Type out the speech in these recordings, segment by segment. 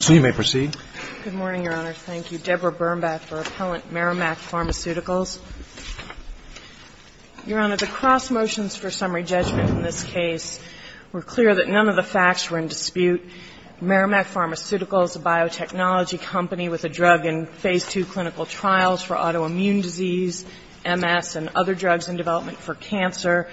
So you may proceed. Good morning, Your Honor. Thank you. Deborah Birnbach for appellant Merrimack Pharmaceuticals. Your Honor, the cross motions for summary judgment in this case were clear that none of the facts were in dispute. Merrimack Pharmaceuticals, a biotechnology company with a drug in Phase II clinical trials for autoimmune disease, MS, and other drugs in development for cancer,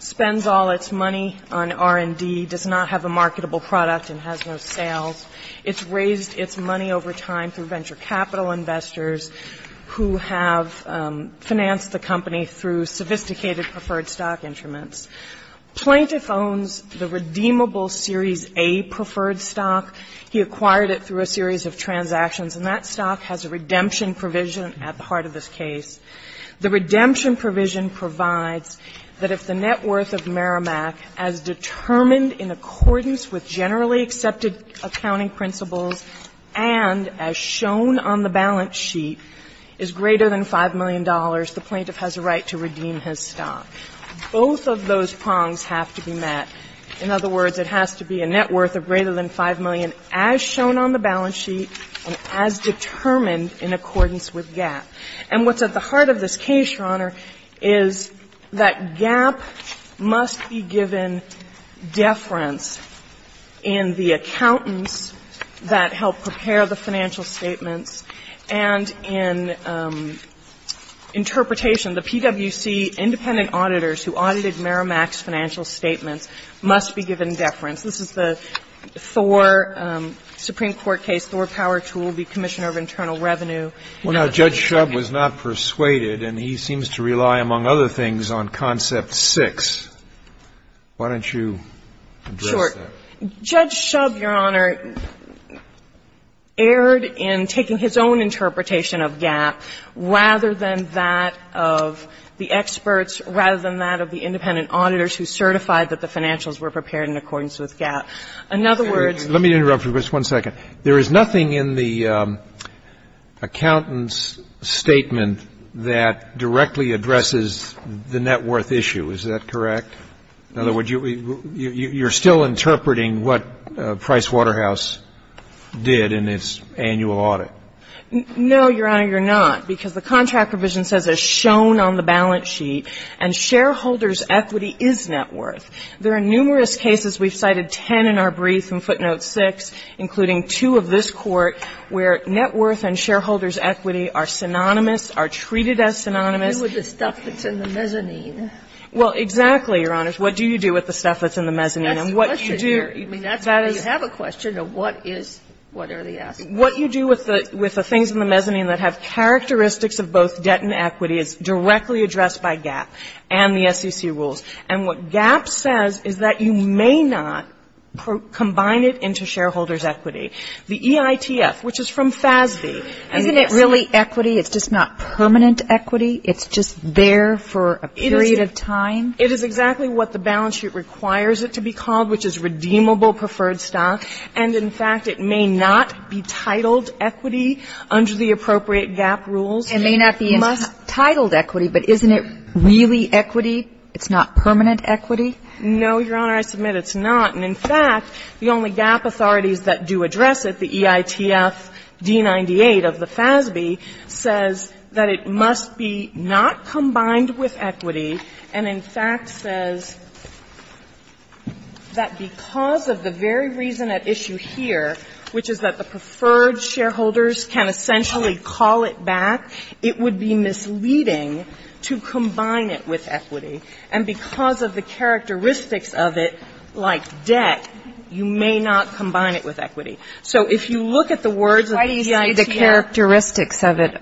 spends all its money on R&D, does not have a marketable product, and has no sales. It's raised its money over time through venture capital investors who have financed the company through sophisticated preferred stock instruments. Plaintiff owns the redeemable Series A preferred stock. He acquired it through a series of transactions, and that stock has a redemption provision at the heart of this case. The redemption provision provides that if the net worth of Merrimack, as determined in accordance with generally accepted accounting principles, and as shown on the balance sheet, is greater than $5 million, the plaintiff has a right to redeem his stock. Both of those prongs have to be met. In other words, it has to be a net worth of greater than $5 million, as shown on the balance sheet, and as determined in accordance with GAAP. And what's at the heart of this case, Your Honor, is that GAAP must be given deference in the accountants that help prepare the financial statements and in interpretation. The PwC independent auditors who audited Merrimack's financial statements must be given deference. This is the Thor Supreme Court case, Thor Power Tool v. Commissioner of Internal Revenue. Well, now, Judge Shub was not persuaded, and he seems to rely, among other things, on concept 6. Why don't you address that? Sure. Judge Shub, Your Honor, erred in taking his own interpretation of GAAP rather than that of the experts, rather than that of the independent auditors who certified that the financials were prepared in accordance with GAAP. In other words ---- Let me interrupt for just one second. There is nothing in the accountant's statement that directly addresses the net worth issue. Is that correct? In other words, you're still interpreting what Price Waterhouse did in its annual audit. No, Your Honor, you're not, because the contract provision says, as shown on the balance sheet, and shareholders' equity is net worth. There are numerous cases. We've cited 10 in our brief in footnote 6, including two of this Court, where net worth and shareholders' equity are synonymous, are treated as synonymous. With the stuff that's in the mezzanine. Well, exactly, Your Honors. What do you do with the stuff that's in the mezzanine? That's the question here. I mean, that's why you have a question of what is, what are the aspects. What you do with the things in the mezzanine that have characteristics of both debt and equity is directly addressed by GAAP and the SEC rules. And what GAAP says is that you may not combine it into shareholders' equity. The EITF, which is from FASB. Isn't it really equity? It's just not permanent equity? It's just there for a period of time? It is exactly what the balance sheet requires it to be called, which is redeemable preferred stock. And in fact, it may not be titled equity under the appropriate GAAP rules. It may not be entitled equity, but isn't it really equity? It's not permanent equity? No, Your Honor. I submit it's not. And in fact, the only GAAP authorities that do address it, the EITF D-98 of the FASB, says that it must be not combined with equity, and in fact says that because of the very reason at issue here, which is that the preferred shareholders can essentially call it back, it would be misleading to combine it with equity. And because of the characteristics of it, like debt, you may not combine it with equity. So if you look at the words of the EITF — Why do you say the characteristics of it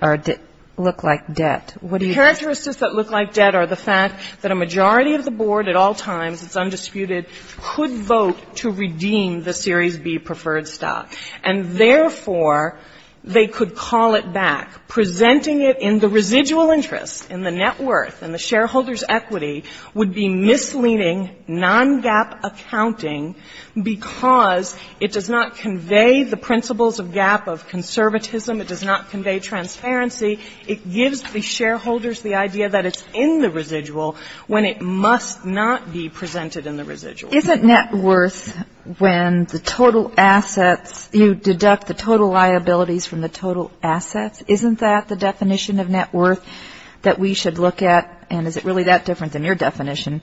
look like debt? The characteristics that look like debt are the fact that a majority of the board at all times, it's undisputed, could vote to redeem the Series B preferred stock. And therefore, they could call it back. Presenting it in the residual interest, in the net worth, in the shareholders' equity, would be misleading non-GAAP accounting because it does not convey the principles of GAAP of conservatism. It does not convey transparency. It gives the shareholders the idea that it's in the residual when it must not be presented in the residual. Isn't net worth when the total assets — you deduct the total liabilities from the total assets? Isn't that the definition of net worth that we should look at? And is it really that different than your definition?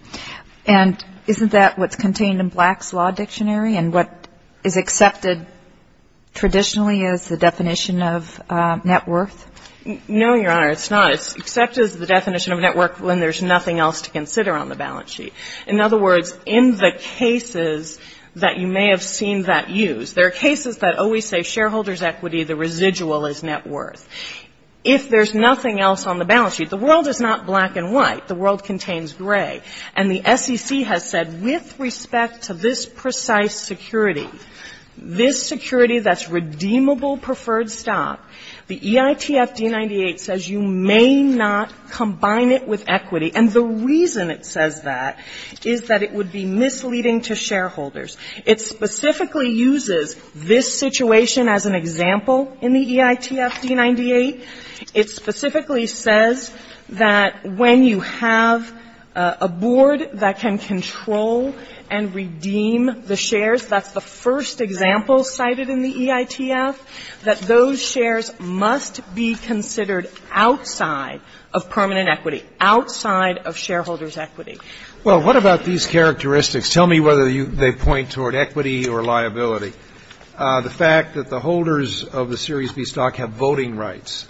And isn't that what's contained in Black's Law Dictionary and what is accepted traditionally as the definition of net worth? No, Your Honor, it's not. It's accepted as the definition of net worth when there's nothing else to consider on the balance sheet. In other words, in the cases that you may have seen that used, there are cases that always say shareholders' equity, the residual is net worth. If there's nothing else on the balance sheet — the world is not black and white. The world contains gray. And the SEC has said, with respect to this precise security, this security that's redeemable preferred stock, the EITF D-98 says you may not combine it with equity. And the reason it says that is that it would be misleading to shareholders. It specifically uses this situation as an example in the EITF D-98. It specifically says that when you have a board that can control and redeem the shares — that's the first example cited in the EITF — that those shares must be considered outside of permanent equity, outside of shareholders' equity. Well, what about these characteristics? Tell me whether they point toward equity or liability. The fact that the holders of the Series B stock have voting rights,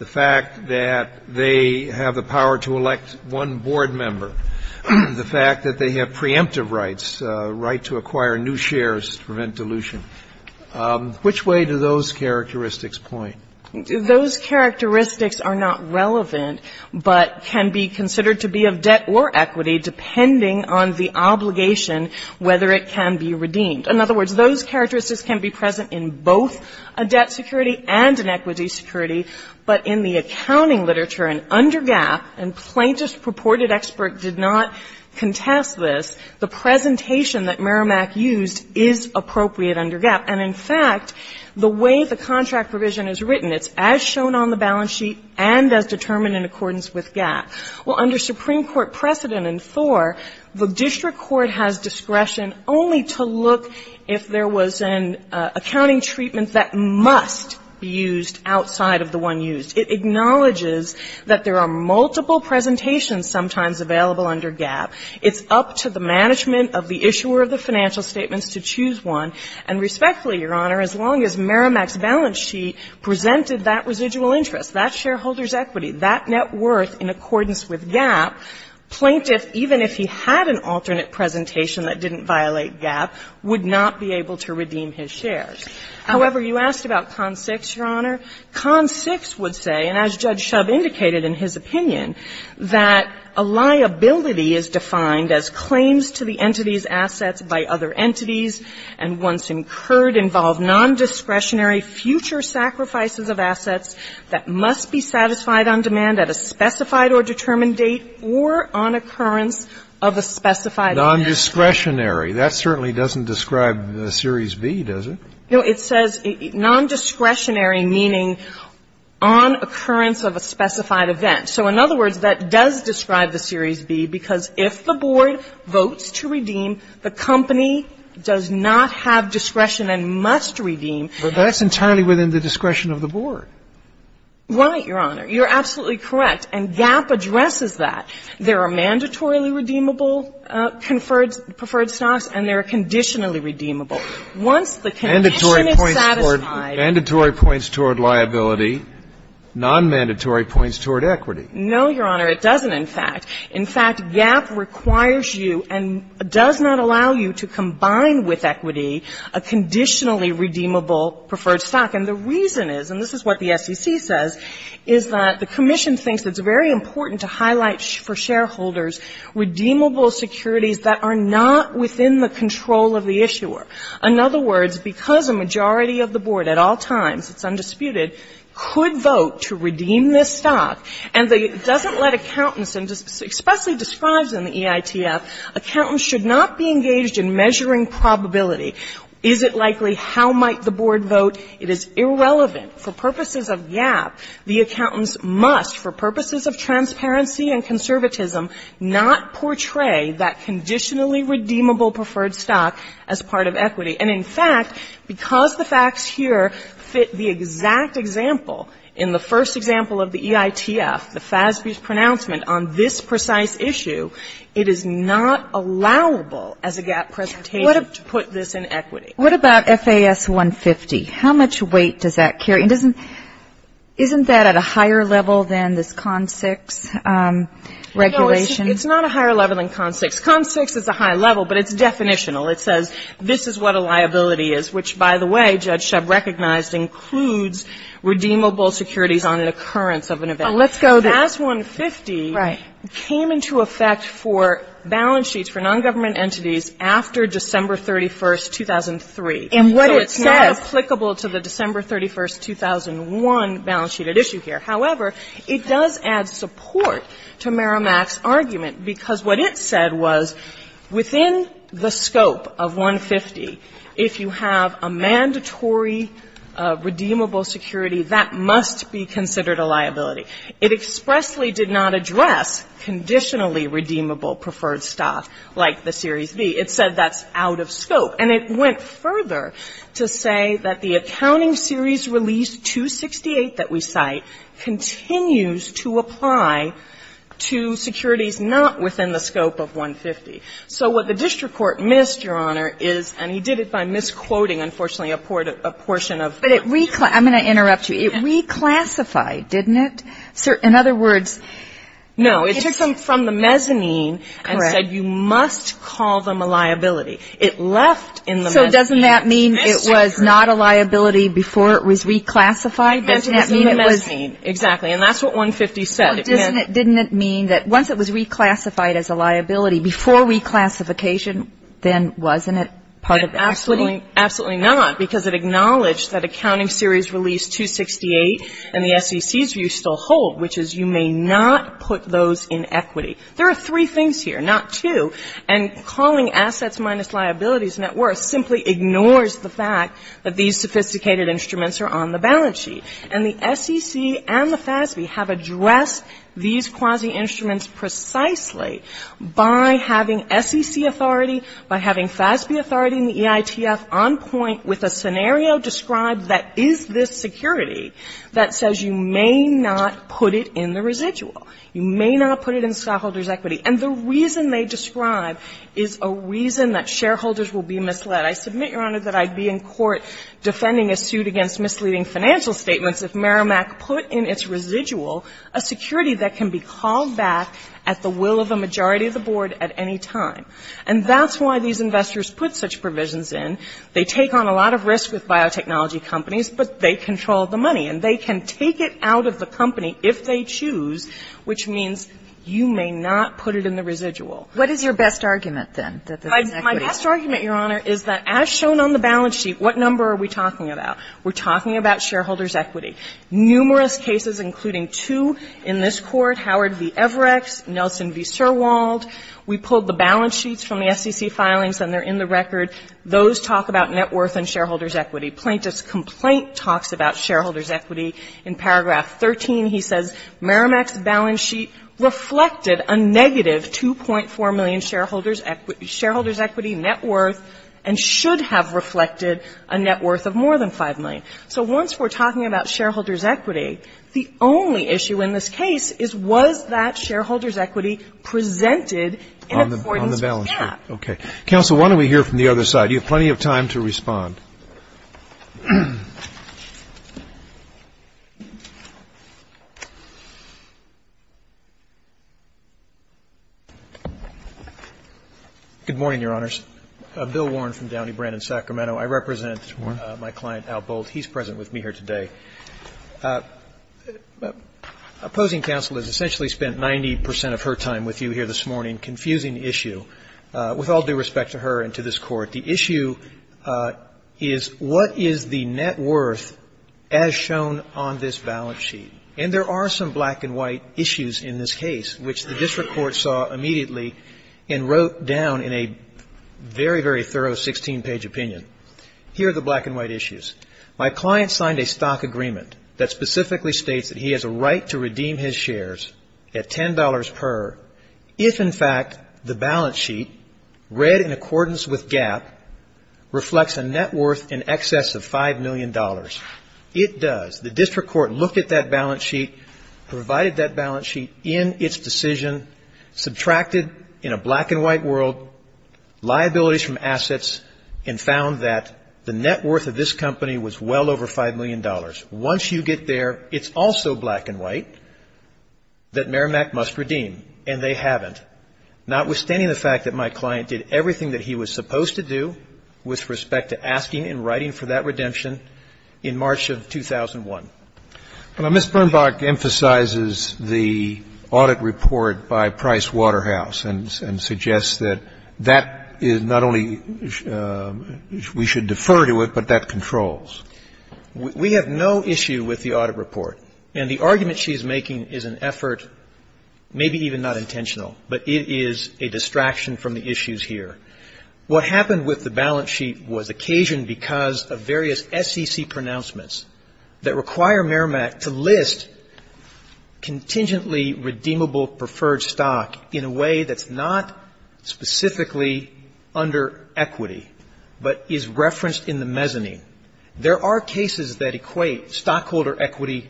the fact that they have the power to elect one board member, the fact that they have preemptive rights — right to acquire new shares to prevent dilution — which way do those characteristics point? Those characteristics are not relevant, but can be considered to be of debt or equity depending on the obligation, whether it can be redeemed. In other words, those characteristics can be present in both a debt security and an equity security, but in the accounting literature and under GAAP, and plaintiff's purported expert did not contest this, the presentation that Merrimack used is appropriate under GAAP. And in fact, the way the contract provision is written, it's as shown on the balance sheet and as determined in accordance with GAAP. Well, under Supreme Court precedent in Thor, the district court has discretion only to look if there was an accounting treatment that must be used outside of the one used. It acknowledges that there are multiple presentations sometimes available under GAAP. It's up to the management of the issuer of the financial statements to choose one. And respectfully, Your Honor, as long as Merrimack's balance sheet presented that residual interest, that shareholder's equity, that net worth in accordance with GAAP, plaintiff, even if he had an alternate presentation that didn't violate GAAP, would not be able to redeem his shares. However, you asked about Con 6, Your Honor. Con 6 would say, and as Judge Shub indicated in his opinion, that a liability is defined as claims to the entity's assets by other entities and once incurred involve nondiscretionary future sacrifices of assets that must be satisfied on demand at a specified or determined date or on occurrence of a specified event. Non-discretionary. That certainly doesn't describe the Series B, does it? No. It says nondiscretionary, meaning on occurrence of a specified event. So in other words, that does describe the Series B because if the board votes to redeem, the company does not have discretion and must redeem. But that's entirely within the discretion of the board. Right, Your Honor. You're absolutely correct. And GAAP addresses that. There are mandatorily redeemable preferred stocks and there are conditionally redeemable. Once the condition is satisfied. Mandatory points toward liability, nonmandatory points toward equity. No, Your Honor. It doesn't, in fact. In fact, GAAP requires you and does not allow you to combine with equity a conditionally redeemable preferred stock. And the reason is, and this is what the SEC says, is that the commission thinks it's very important to highlight for shareholders redeemable securities that are not within the control of the issuer. In other words, because a majority of the board at all times, it's undisputed, could vote to redeem this stock, and it doesn't let accountants, and it's expressly described in the EITF, accountants should not be engaged in measuring probability. Is it likely, how might the board vote? It is irrelevant. For purposes of GAAP, the accountants must, for purposes of transparency and conservatism, not portray that conditionally redeemable preferred stock as part of equity. And in fact, because the facts here fit the exact example in the first example of the EITF, the FASB's pronouncement on this precise issue, it is not allowable as a GAAP presentation to put this in equity. What about FAS 150? How much weight does that carry? And doesn't, isn't that at a higher level than this CON 6 regulation? No, it's not a higher level than CON 6. CON 6 is a high level, but it's definitional. It says, this is what a liability is, which, by the way, Judge Shebb recognized, includes redeemable securities on an occurrence of an event. Let's go there. FAS 150 came into effect for balance sheets for nongovernment entities after December 31st, 2003. And what it says So it's not applicable to the December 31st, 2001 balance sheet at issue here. However, it does add support to Merrimack's argument, because what it said was, within the scope of 150, if you have a mandatory redeemable security, that must be considered a liability. It expressly did not address conditionally redeemable preferred stock like the Series B. It said that's out of scope. And it went further to say that the accounting series release 268 that we cite continues to apply to securities not within the scope of 150. So what the district court missed, Your Honor, is, and he did it by misquoting, unfortunately, a portion of But it reclassified. I'm going to interrupt you. It reclassified, didn't it? In other words, No. It took them from the mezzanine and said you must call them a liability. It left in the So doesn't that mean it was not a liability before it was reclassified? Doesn't that mean it was Exactly. And that's what 150 said. Didn't it mean that once it was reclassified as a liability before reclassification, then wasn't it part of the equity? Absolutely not. Because it acknowledged that accounting series release 268 and the SEC's view still hold, which is you may not put those in equity. There are three things here, not two. And calling assets minus liabilities net worth simply ignores the fact that these sophisticated instruments are on the balance sheet. And the SEC and the FASB have addressed these quasi-instruments precisely by having SEC authority, by having FASB authority in the EITF on point with a scenario described that is this security that says you may not put it in the residual. You may not put it in stockholders' equity. And the reason they describe is a reason that shareholders will be misled. I submit, Your Honor, that I'd be in court defending a suit against misleading financial statements if Merrimack put in its residual a security that can be called back at the will of a majority of the board at any time. And that's why these investors put such provisions in. They take on a lot of risk with biotechnology companies, but they control the money. And they can take it out of the company if they choose, which means you may not put it in the residual. What is your best argument, then, that this is equity? My best argument, Your Honor, is that as shown on the balance sheet, what number are we talking about? We're talking about shareholders' equity. Numerous cases, including two in this Court, Howard v. Everex, Nelson v. Sirwald. We pulled the balance sheets from the SEC filings, and they're in the record. Those talk about net worth and shareholders' equity. Plaintiff's complaint talks about shareholders' equity. In paragraph 13, he says, Merrimack's balance sheet reflected a negative $2.4 million shareholders' equity net worth and should have reflected a net worth of more than $5 million. So once we're talking about shareholders' equity, the only issue in this case is, was that shareholders' equity presented in accordance with that? Okay. Counsel, why don't we hear from the other side? You have plenty of time to respond. Good morning, Your Honors. Bill Warren from Downey Brand in Sacramento. I represent my client, Al Boldt. He's present with me here today. Opposing counsel has essentially spent 90 percent of her time with you here this morning confusing the issue. With all due respect to her and to this Court, the issue is, what is the net worth as shown on this balance sheet? And there are some black and white issues in this case, which the district court saw immediately and wrote down in a very, very thorough 16-page opinion. Here are the black and white issues. My client signed a stock agreement that specifically states that he has a right to redeem his shares at $10 per if, in fact, the balance sheet, read in accordance with GAAP, reflects a net worth in excess of $5 million. It does. The district court looked at that balance sheet, provided that balance sheet in its decision, subtracted, in a black and white world, liabilities from assets, and found that the net worth of this company was well over $5 million. Once you get there, it's also black and white that Merrimack must redeem, and they haven't, notwithstanding the fact that my client did everything that he was supposed to do with respect to asking and writing for that redemption in March of 2001. Well, Ms. Birnbach emphasizes the audit report by Price Waterhouse and suggests that that is not only, we should defer to it, but that controls. We have no issue with the audit report. And the argument she is making is an effort, maybe even not intentional, but it is a distraction from the issues here. What happened with the balance sheet was occasioned because of various SEC pronouncements that require Merrimack to list contingently redeemable preferred stock in a way that's not specifically under equity, but is referenced in the mezzanine. There are cases that equate stockholder equity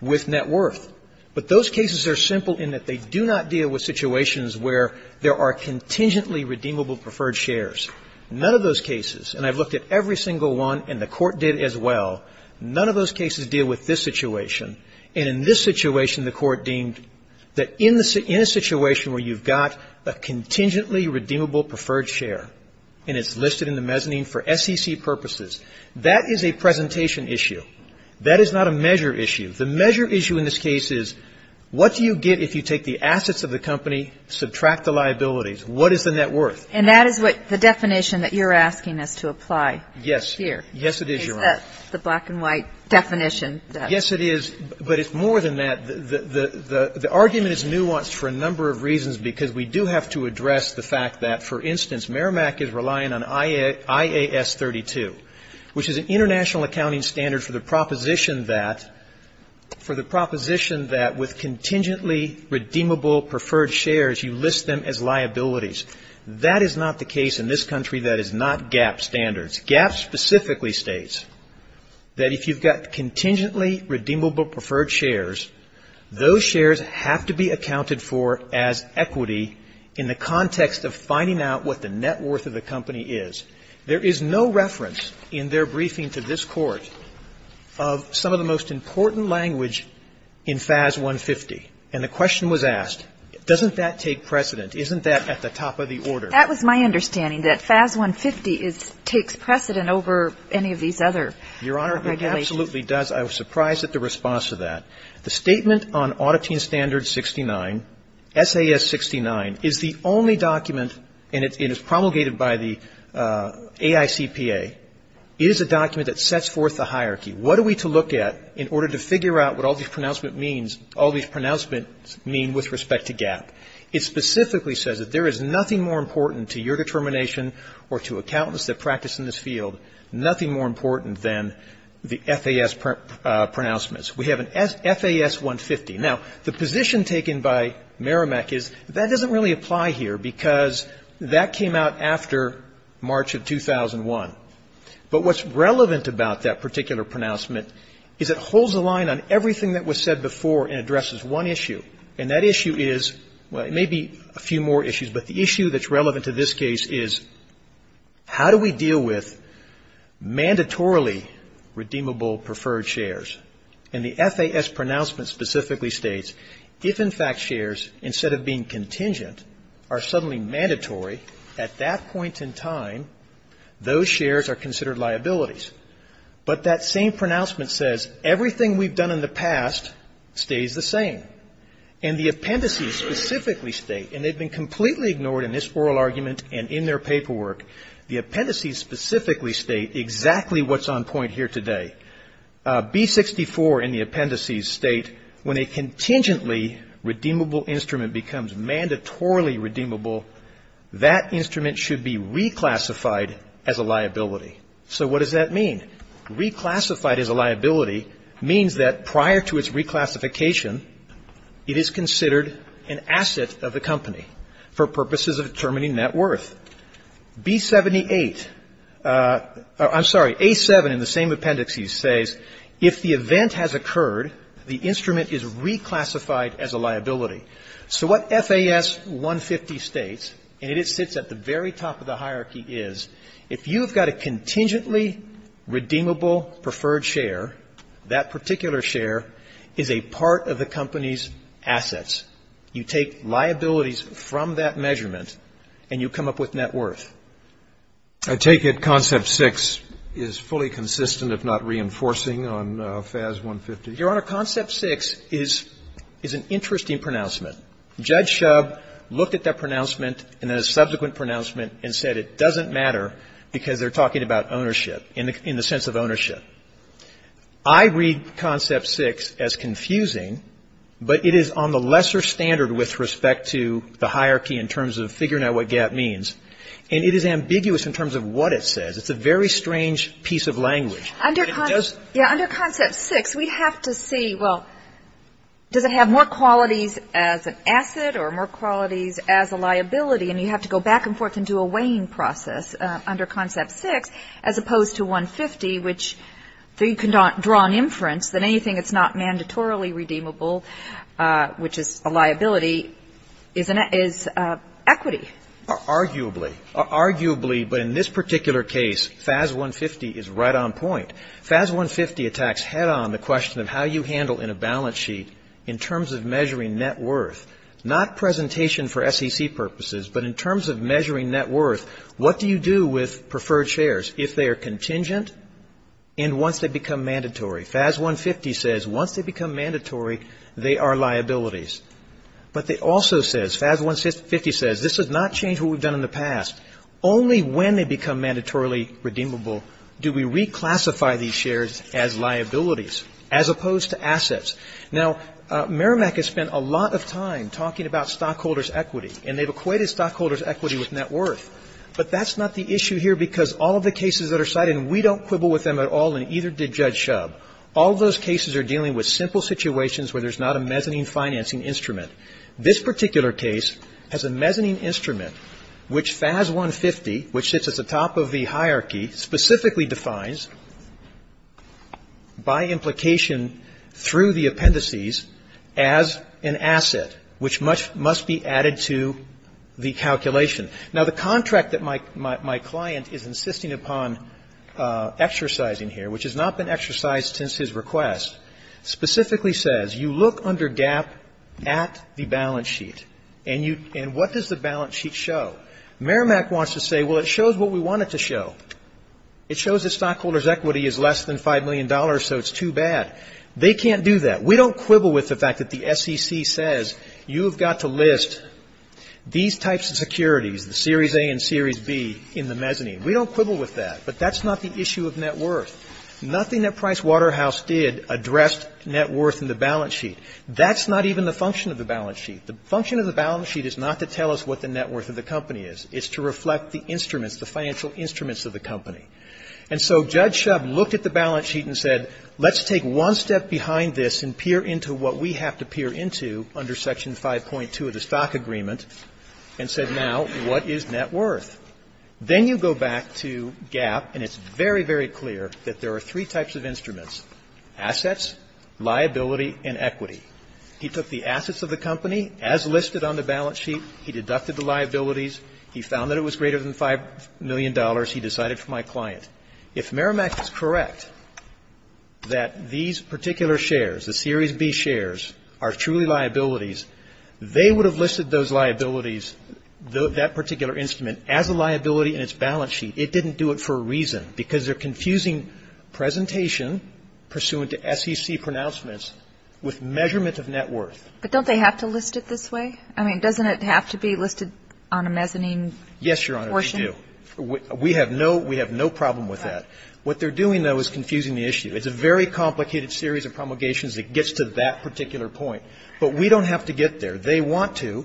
with net worth. But those cases are simple in that they do not deal with situations where there are contingently redeemable preferred shares. None of those cases, and I've looked at every single one, and the Court did as well, none of those cases deal with this situation. And in this situation, the Court deemed that in a situation where you've got a contingently redeemable preferred share, and it's listed in the mezzanine for SEC purposes, that is a presentation issue. That is not a measure issue. The measure issue in this case is what do you get if you take the assets of the company, subtract the liabilities? What is the net worth? And that is what the definition that you're asking us to apply here. Yes, it is, Your Honor. Is that the black and white definition? Yes, it is. But it's more than that. The argument is nuanced for a number of reasons because we do have to address the fact that, for instance, Merrimack is relying on IAS 32, which is an international accounting standard for the proposition that with contingently redeemable preferred shares, you list them as liabilities. That is not the case in this country. That is not GAAP standards. GAAP specifically states that if you've got contingently redeemable preferred shares, those shares have to be accounted for as equity in the context of finding out what the net worth of the company is. There is no reference in their briefing to this Court of some of the most important language in FAS 150. And the question was asked, doesn't that take precedent? Isn't that at the top of the order? That was my understanding, that FAS 150 takes precedent over any of these other regulations. Your Honor, it absolutely does. I was surprised at the response to that. The statement on Auditing Standard 69, SAS 69, is the only document, and it is promulgated by the AICPA, is a document that sets forth a hierarchy. What are we to look at in order to figure out what all these pronouncements mean with respect to GAAP? It specifically says that there is nothing more important to your determination or to accountants that practice in this field, nothing more important than the FAS pronouncements. We have an FAS 150. Now, the position taken by Meramec is that doesn't really apply here because that came out after March of 2001. But what's relevant about that particular pronouncement is it holds the line on everything that was said before and addresses one issue, and that issue is, well, it may be a few more issues, but the issue that's relevant to this case is how do we deal with mandatorily redeemable preferred shares? And the FAS pronouncement specifically states, if in fact shares, instead of being contingent, are suddenly mandatory at that point in time, those shares are considered liabilities. But that same pronouncement says everything we've done in the past stays the same. And the appendices specifically state, and they've been completely ignored in this oral argument and in their paperwork, the appendices specifically state exactly what's on point here today. B64 in the appendices state, when a contingently redeemable instrument becomes mandatorily redeemable, that instrument should be reclassified as a liability. So what does that mean? Reclassified as a liability means that prior to its reclassification, it is considered an asset of the company for purposes of determining net worth. B78, I'm sorry, A7 in the same appendices says, if the event has occurred, the instrument is reclassified as a liability. So what FAS 150 states, and it sits at the very top of the hierarchy, is if you've got a contingently redeemable preferred share, that particular share is a part of the company's assets. You take liabilities from that measurement, and you come up with net worth. I take it Concept 6 is fully consistent, if not reinforcing, on FAS 150? Your Honor, Concept 6 is an interesting pronouncement. Judge Shub looked at that pronouncement and then a subsequent pronouncement and said, it doesn't matter because they're talking about ownership, in the sense of ownership. I read Concept 6 as confusing, but it is on the lesser standard with respect to the hierarchy in terms of figuring out what gap means. And it is ambiguous in terms of what it says. It's a very strange piece of language. Under Concept 6, we have to see, well, does it have more qualities as an asset or more qualities as a liability? And you have to go back and forth and do a weighing process under Concept 6, as opposed to 150, which you can draw an inference that anything that's not mandatorily redeemable, which is a liability, is equity. Arguably, but in this particular case, FAS 150 is right on point. FAS 150 attacks head-on the question of how you handle in a balance sheet in terms of measuring net worth. Not presentation for SEC purposes, but in terms of measuring net worth, what do you do with preferred shares? If they are contingent and once they become mandatory. FAS 150 says, once they become mandatory, they are liabilities. But it also says, FAS 150 says, this has not changed what we've done in the past. Only when they become mandatorily redeemable do we reclassify these shares as liabilities, as opposed to assets. Now, Merrimack has spent a lot of time talking about stockholders' equity, and they've equated stockholders' equity with net worth. But that's not the issue here, because all of the cases that are cited, and we don't quibble with them at all, and either did Judge Schub. All those cases are dealing with simple situations where there's not a mezzanine financing instrument. This particular case has a mezzanine instrument, which FAS 150, which sits at the top of the hierarchy, specifically defines by implication through the appendices as an asset, which must be added to the calculation. Now, the contract that my client is insisting upon exercising here, which has not been exercised since his request, specifically says, you look under GAAP at the balance sheet, and what does the balance sheet show? Merrimack wants to say, well, it shows what we want it to show. It shows that stockholders' equity is less than $5 million, so it's too bad. They can't do that. We don't quibble with the fact that the SEC says, you've got to list these types of securities, the Series A and Series B, in the mezzanine. We don't quibble with that, but that's not the issue of net worth. Nothing that Price Waterhouse did addressed net worth in the balance sheet. That's not even the function of the balance sheet. The function of the balance sheet is not to tell us what the net worth of the company is. It's to reflect the instruments, the financial instruments of the company. And so Judge Shub looked at the balance sheet and said, let's take one step behind this and peer into what we have to peer into under Section 5.2 of the Stock Agreement and said, now, what is net worth? Then you go back to GAAP, and it's very, very clear that there are three types of instruments, assets, liability and equity. He took the assets of the company as listed on the balance sheet. He deducted the liabilities. He found that it was greater than $5 million. He decided for my client. If Merrimack is correct that these particular shares, the Series B shares, are truly liabilities, they would have listed those liabilities, that particular instrument, as a liability in its balance sheet. It didn't do it for a reason, because they're confusing presentation pursuant to SEC pronouncements with measurement of net worth. But don't they have to list it this way? I mean, doesn't it have to be listed on a mezzanine portion? Yes, Your Honor, they do. We have no problem with that. What they're doing, though, is confusing the issue. It's a very complicated series of promulgations that gets to that particular point. But we don't have to get there. They want to,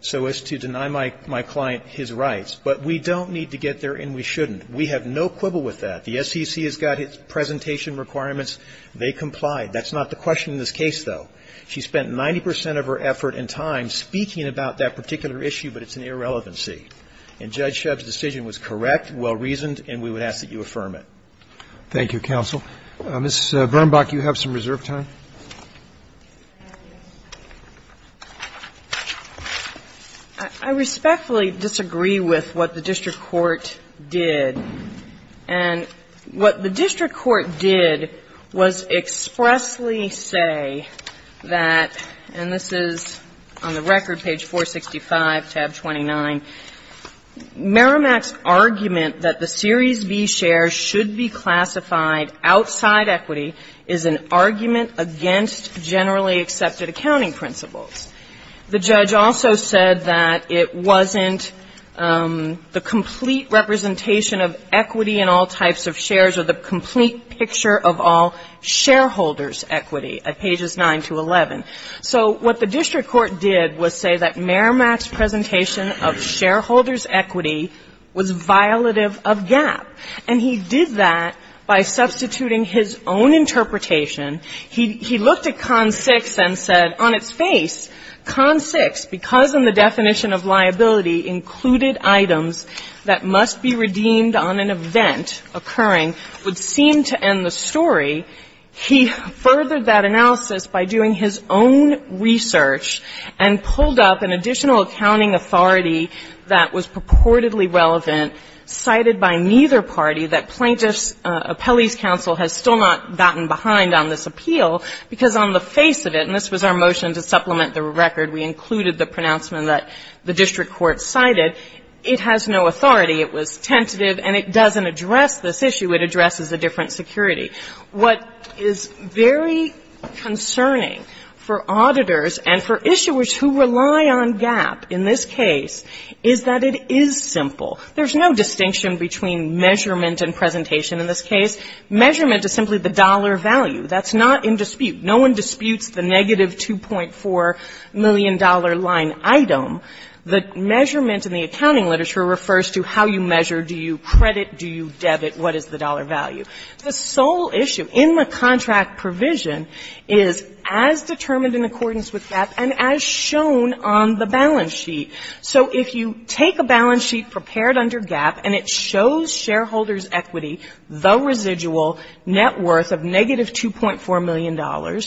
so as to deny my client his rights. But we don't need to get there, and we shouldn't. We have no quibble with that. The SEC has got its presentation requirements. They comply. That's not the question in this case, though. She spent 90 percent of her effort and time speaking about that particular issue, but it's an irrelevancy. And Judge Shub's decision was correct, well-reasoned, and we would ask that you affirm it. Roberts. Thank you, counsel. Ms. Bernbach, you have some reserve time. I respectfully disagree with what the district court did. And what the district court did was expressly say that, and this is on the record, on page 465, tab 29, Merrimack's argument that the Series B shares should be classified outside equity is an argument against generally accepted accounting principles. The judge also said that it wasn't the complete representation of equity in all types of shares or the complete picture of all shareholders' equity at pages 9 to 11. So what the district court did was say that Merrimack's presentation of shareholders' equity was violative of GAAP. And he did that by substituting his own interpretation. He looked at Con 6 and said, on its face, Con 6, because in the definition of liability included items that must be redeemed on an event occurring, would seem to end the story. He furthered that analysis by doing his own research and pulled up an additional accounting authority that was purportedly relevant, cited by neither party, that plaintiffs' appellees' counsel has still not gotten behind on this appeal, because on the face of it, and this was our motion to supplement the record, we included the pronouncement that the district court cited, it has no authority. It was tentative, and it doesn't address this issue. It addresses a different security. What is very concerning for auditors and for issuers who rely on GAAP in this case is that it is simple. There's no distinction between measurement and presentation in this case. Measurement is simply the dollar value. That's not in dispute. No one disputes the negative $2.4 million line item. The measurement in the accounting literature refers to how you measure, do you credit, do you debit, what is the dollar value. The sole issue in the contract provision is as determined in accordance with GAAP and as shown on the balance sheet. So if you take a balance sheet prepared under GAAP and it shows shareholders' equity, the residual net worth of negative $2.4 million,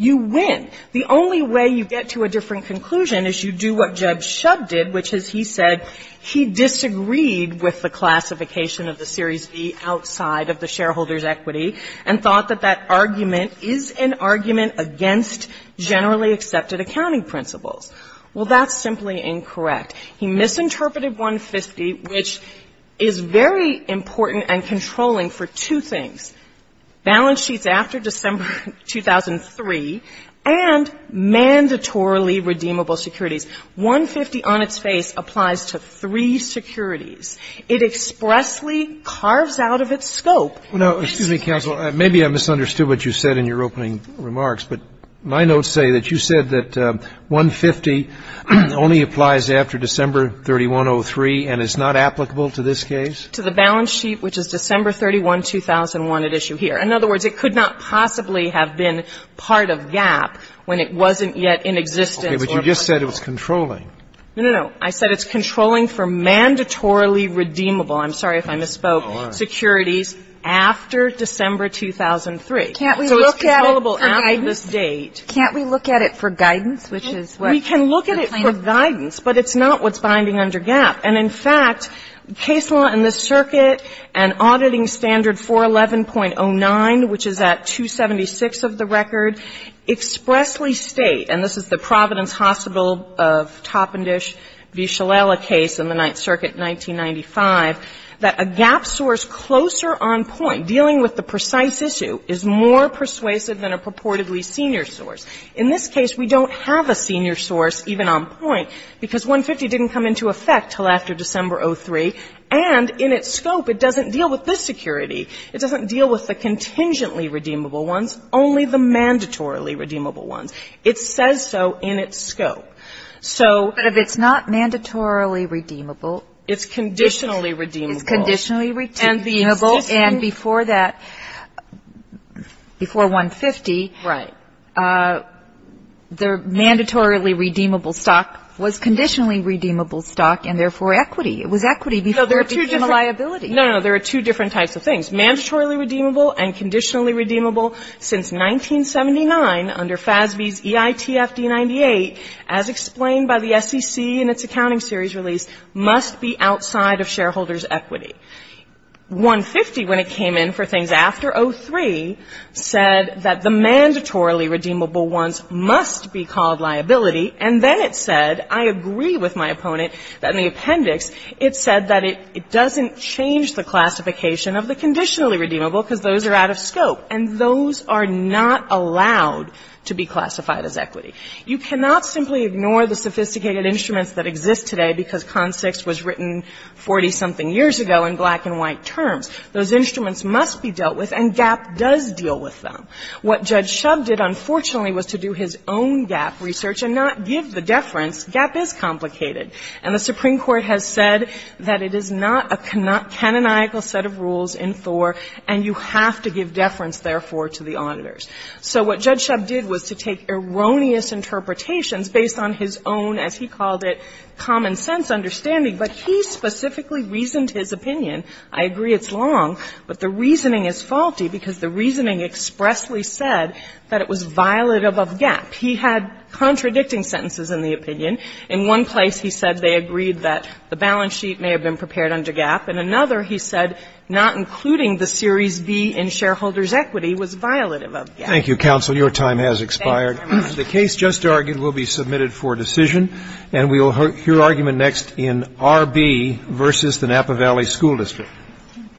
you win. The only way you get to a different conclusion is you do what Jeb Shubb did, which is he said he disagreed with the classification of the Series B outside of the shareholders' equity and thought that that argument is an argument against generally accepted accounting principles. Well, that's simply incorrect. He misinterpreted 150, which is very important and controlling for two things. Balance sheets after December 2003 and mandatorily redeemable securities. 150 on its face applies to three securities. It expressly carves out of its scope. No. Excuse me, counsel. Maybe I misunderstood what you said in your opening remarks, but my notes say that you said that 150 only applies after December 3103 and is not applicable to this case? To the balance sheet, which is December 31, 2001, at issue here. In other words, it could not possibly have been part of GAAP when it wasn't yet in existence. But you just said it was controlling. No, no, no. I said it's controlling for mandatorily redeemable. I'm sorry if I misspoke. Securities after December 2003. Can't we look at it for guidance? So it's controllable after this date. Can't we look at it for guidance, which is what the plaintiff said? We can look at it for guidance, but it's not what's binding under GAAP. And in fact, case law in this circuit and auditing standard 411.09, which is at 276 of the record, expressly state, and this is the Providence Hospital of Toppendish v. Shalala case in the Ninth Circuit, 1995, that a GAAP source closer on point, dealing with the precise issue, is more persuasive than a purportedly senior source. In this case, we don't have a senior source even on point because 150 didn't come into effect until after December 2003. And in its scope, it doesn't deal with this security. It doesn't deal with the contingently redeemable ones, only the mandatorily redeemable ones. It says so in its scope. So. But if it's not mandatorily redeemable. It's conditionally redeemable. It's conditionally redeemable. And before that, before 150. Right. But the mandatorily redeemable stock was conditionally redeemable stock and therefore equity. It was equity before it became a liability. No, no, no. There are two different types of things. Mandatorily redeemable and conditionally redeemable. Since 1979, under FASB's EITF D-98, as explained by the SEC in its accounting series release, must be outside of shareholders' equity. 150, when it came in for things after 03, said that the mandatorily redeemable ones must be called liability. And then it said, I agree with my opponent, that in the appendix, it said that it doesn't change the classification of the conditionally redeemable because those are out of scope. And those are not allowed to be classified as equity. You cannot simply ignore the sophisticated instruments that exist today because CONSIX was written 40-something years ago in black and white terms. Those instruments must be dealt with and GAAP does deal with them. What Judge Shub did, unfortunately, was to do his own GAAP research and not give the deference. GAAP is complicated. And the Supreme Court has said that it is not a canonical set of rules in Thor and you have to give deference, therefore, to the auditors. So what Judge Shub did was to take erroneous interpretations based on his own, as he understood, but he specifically reasoned his opinion. I agree it's long, but the reasoning is faulty because the reasoning expressly said that it was violative of GAAP. He had contradicting sentences in the opinion. In one place, he said they agreed that the balance sheet may have been prepared under GAAP. In another, he said not including the series B in shareholders' equity was violative of GAAP. Thank you, counsel. Your time has expired. Thank you very much. The case just argued will be submitted for decision. And we will hear argument next in R.B. versus the Napa Valley School District.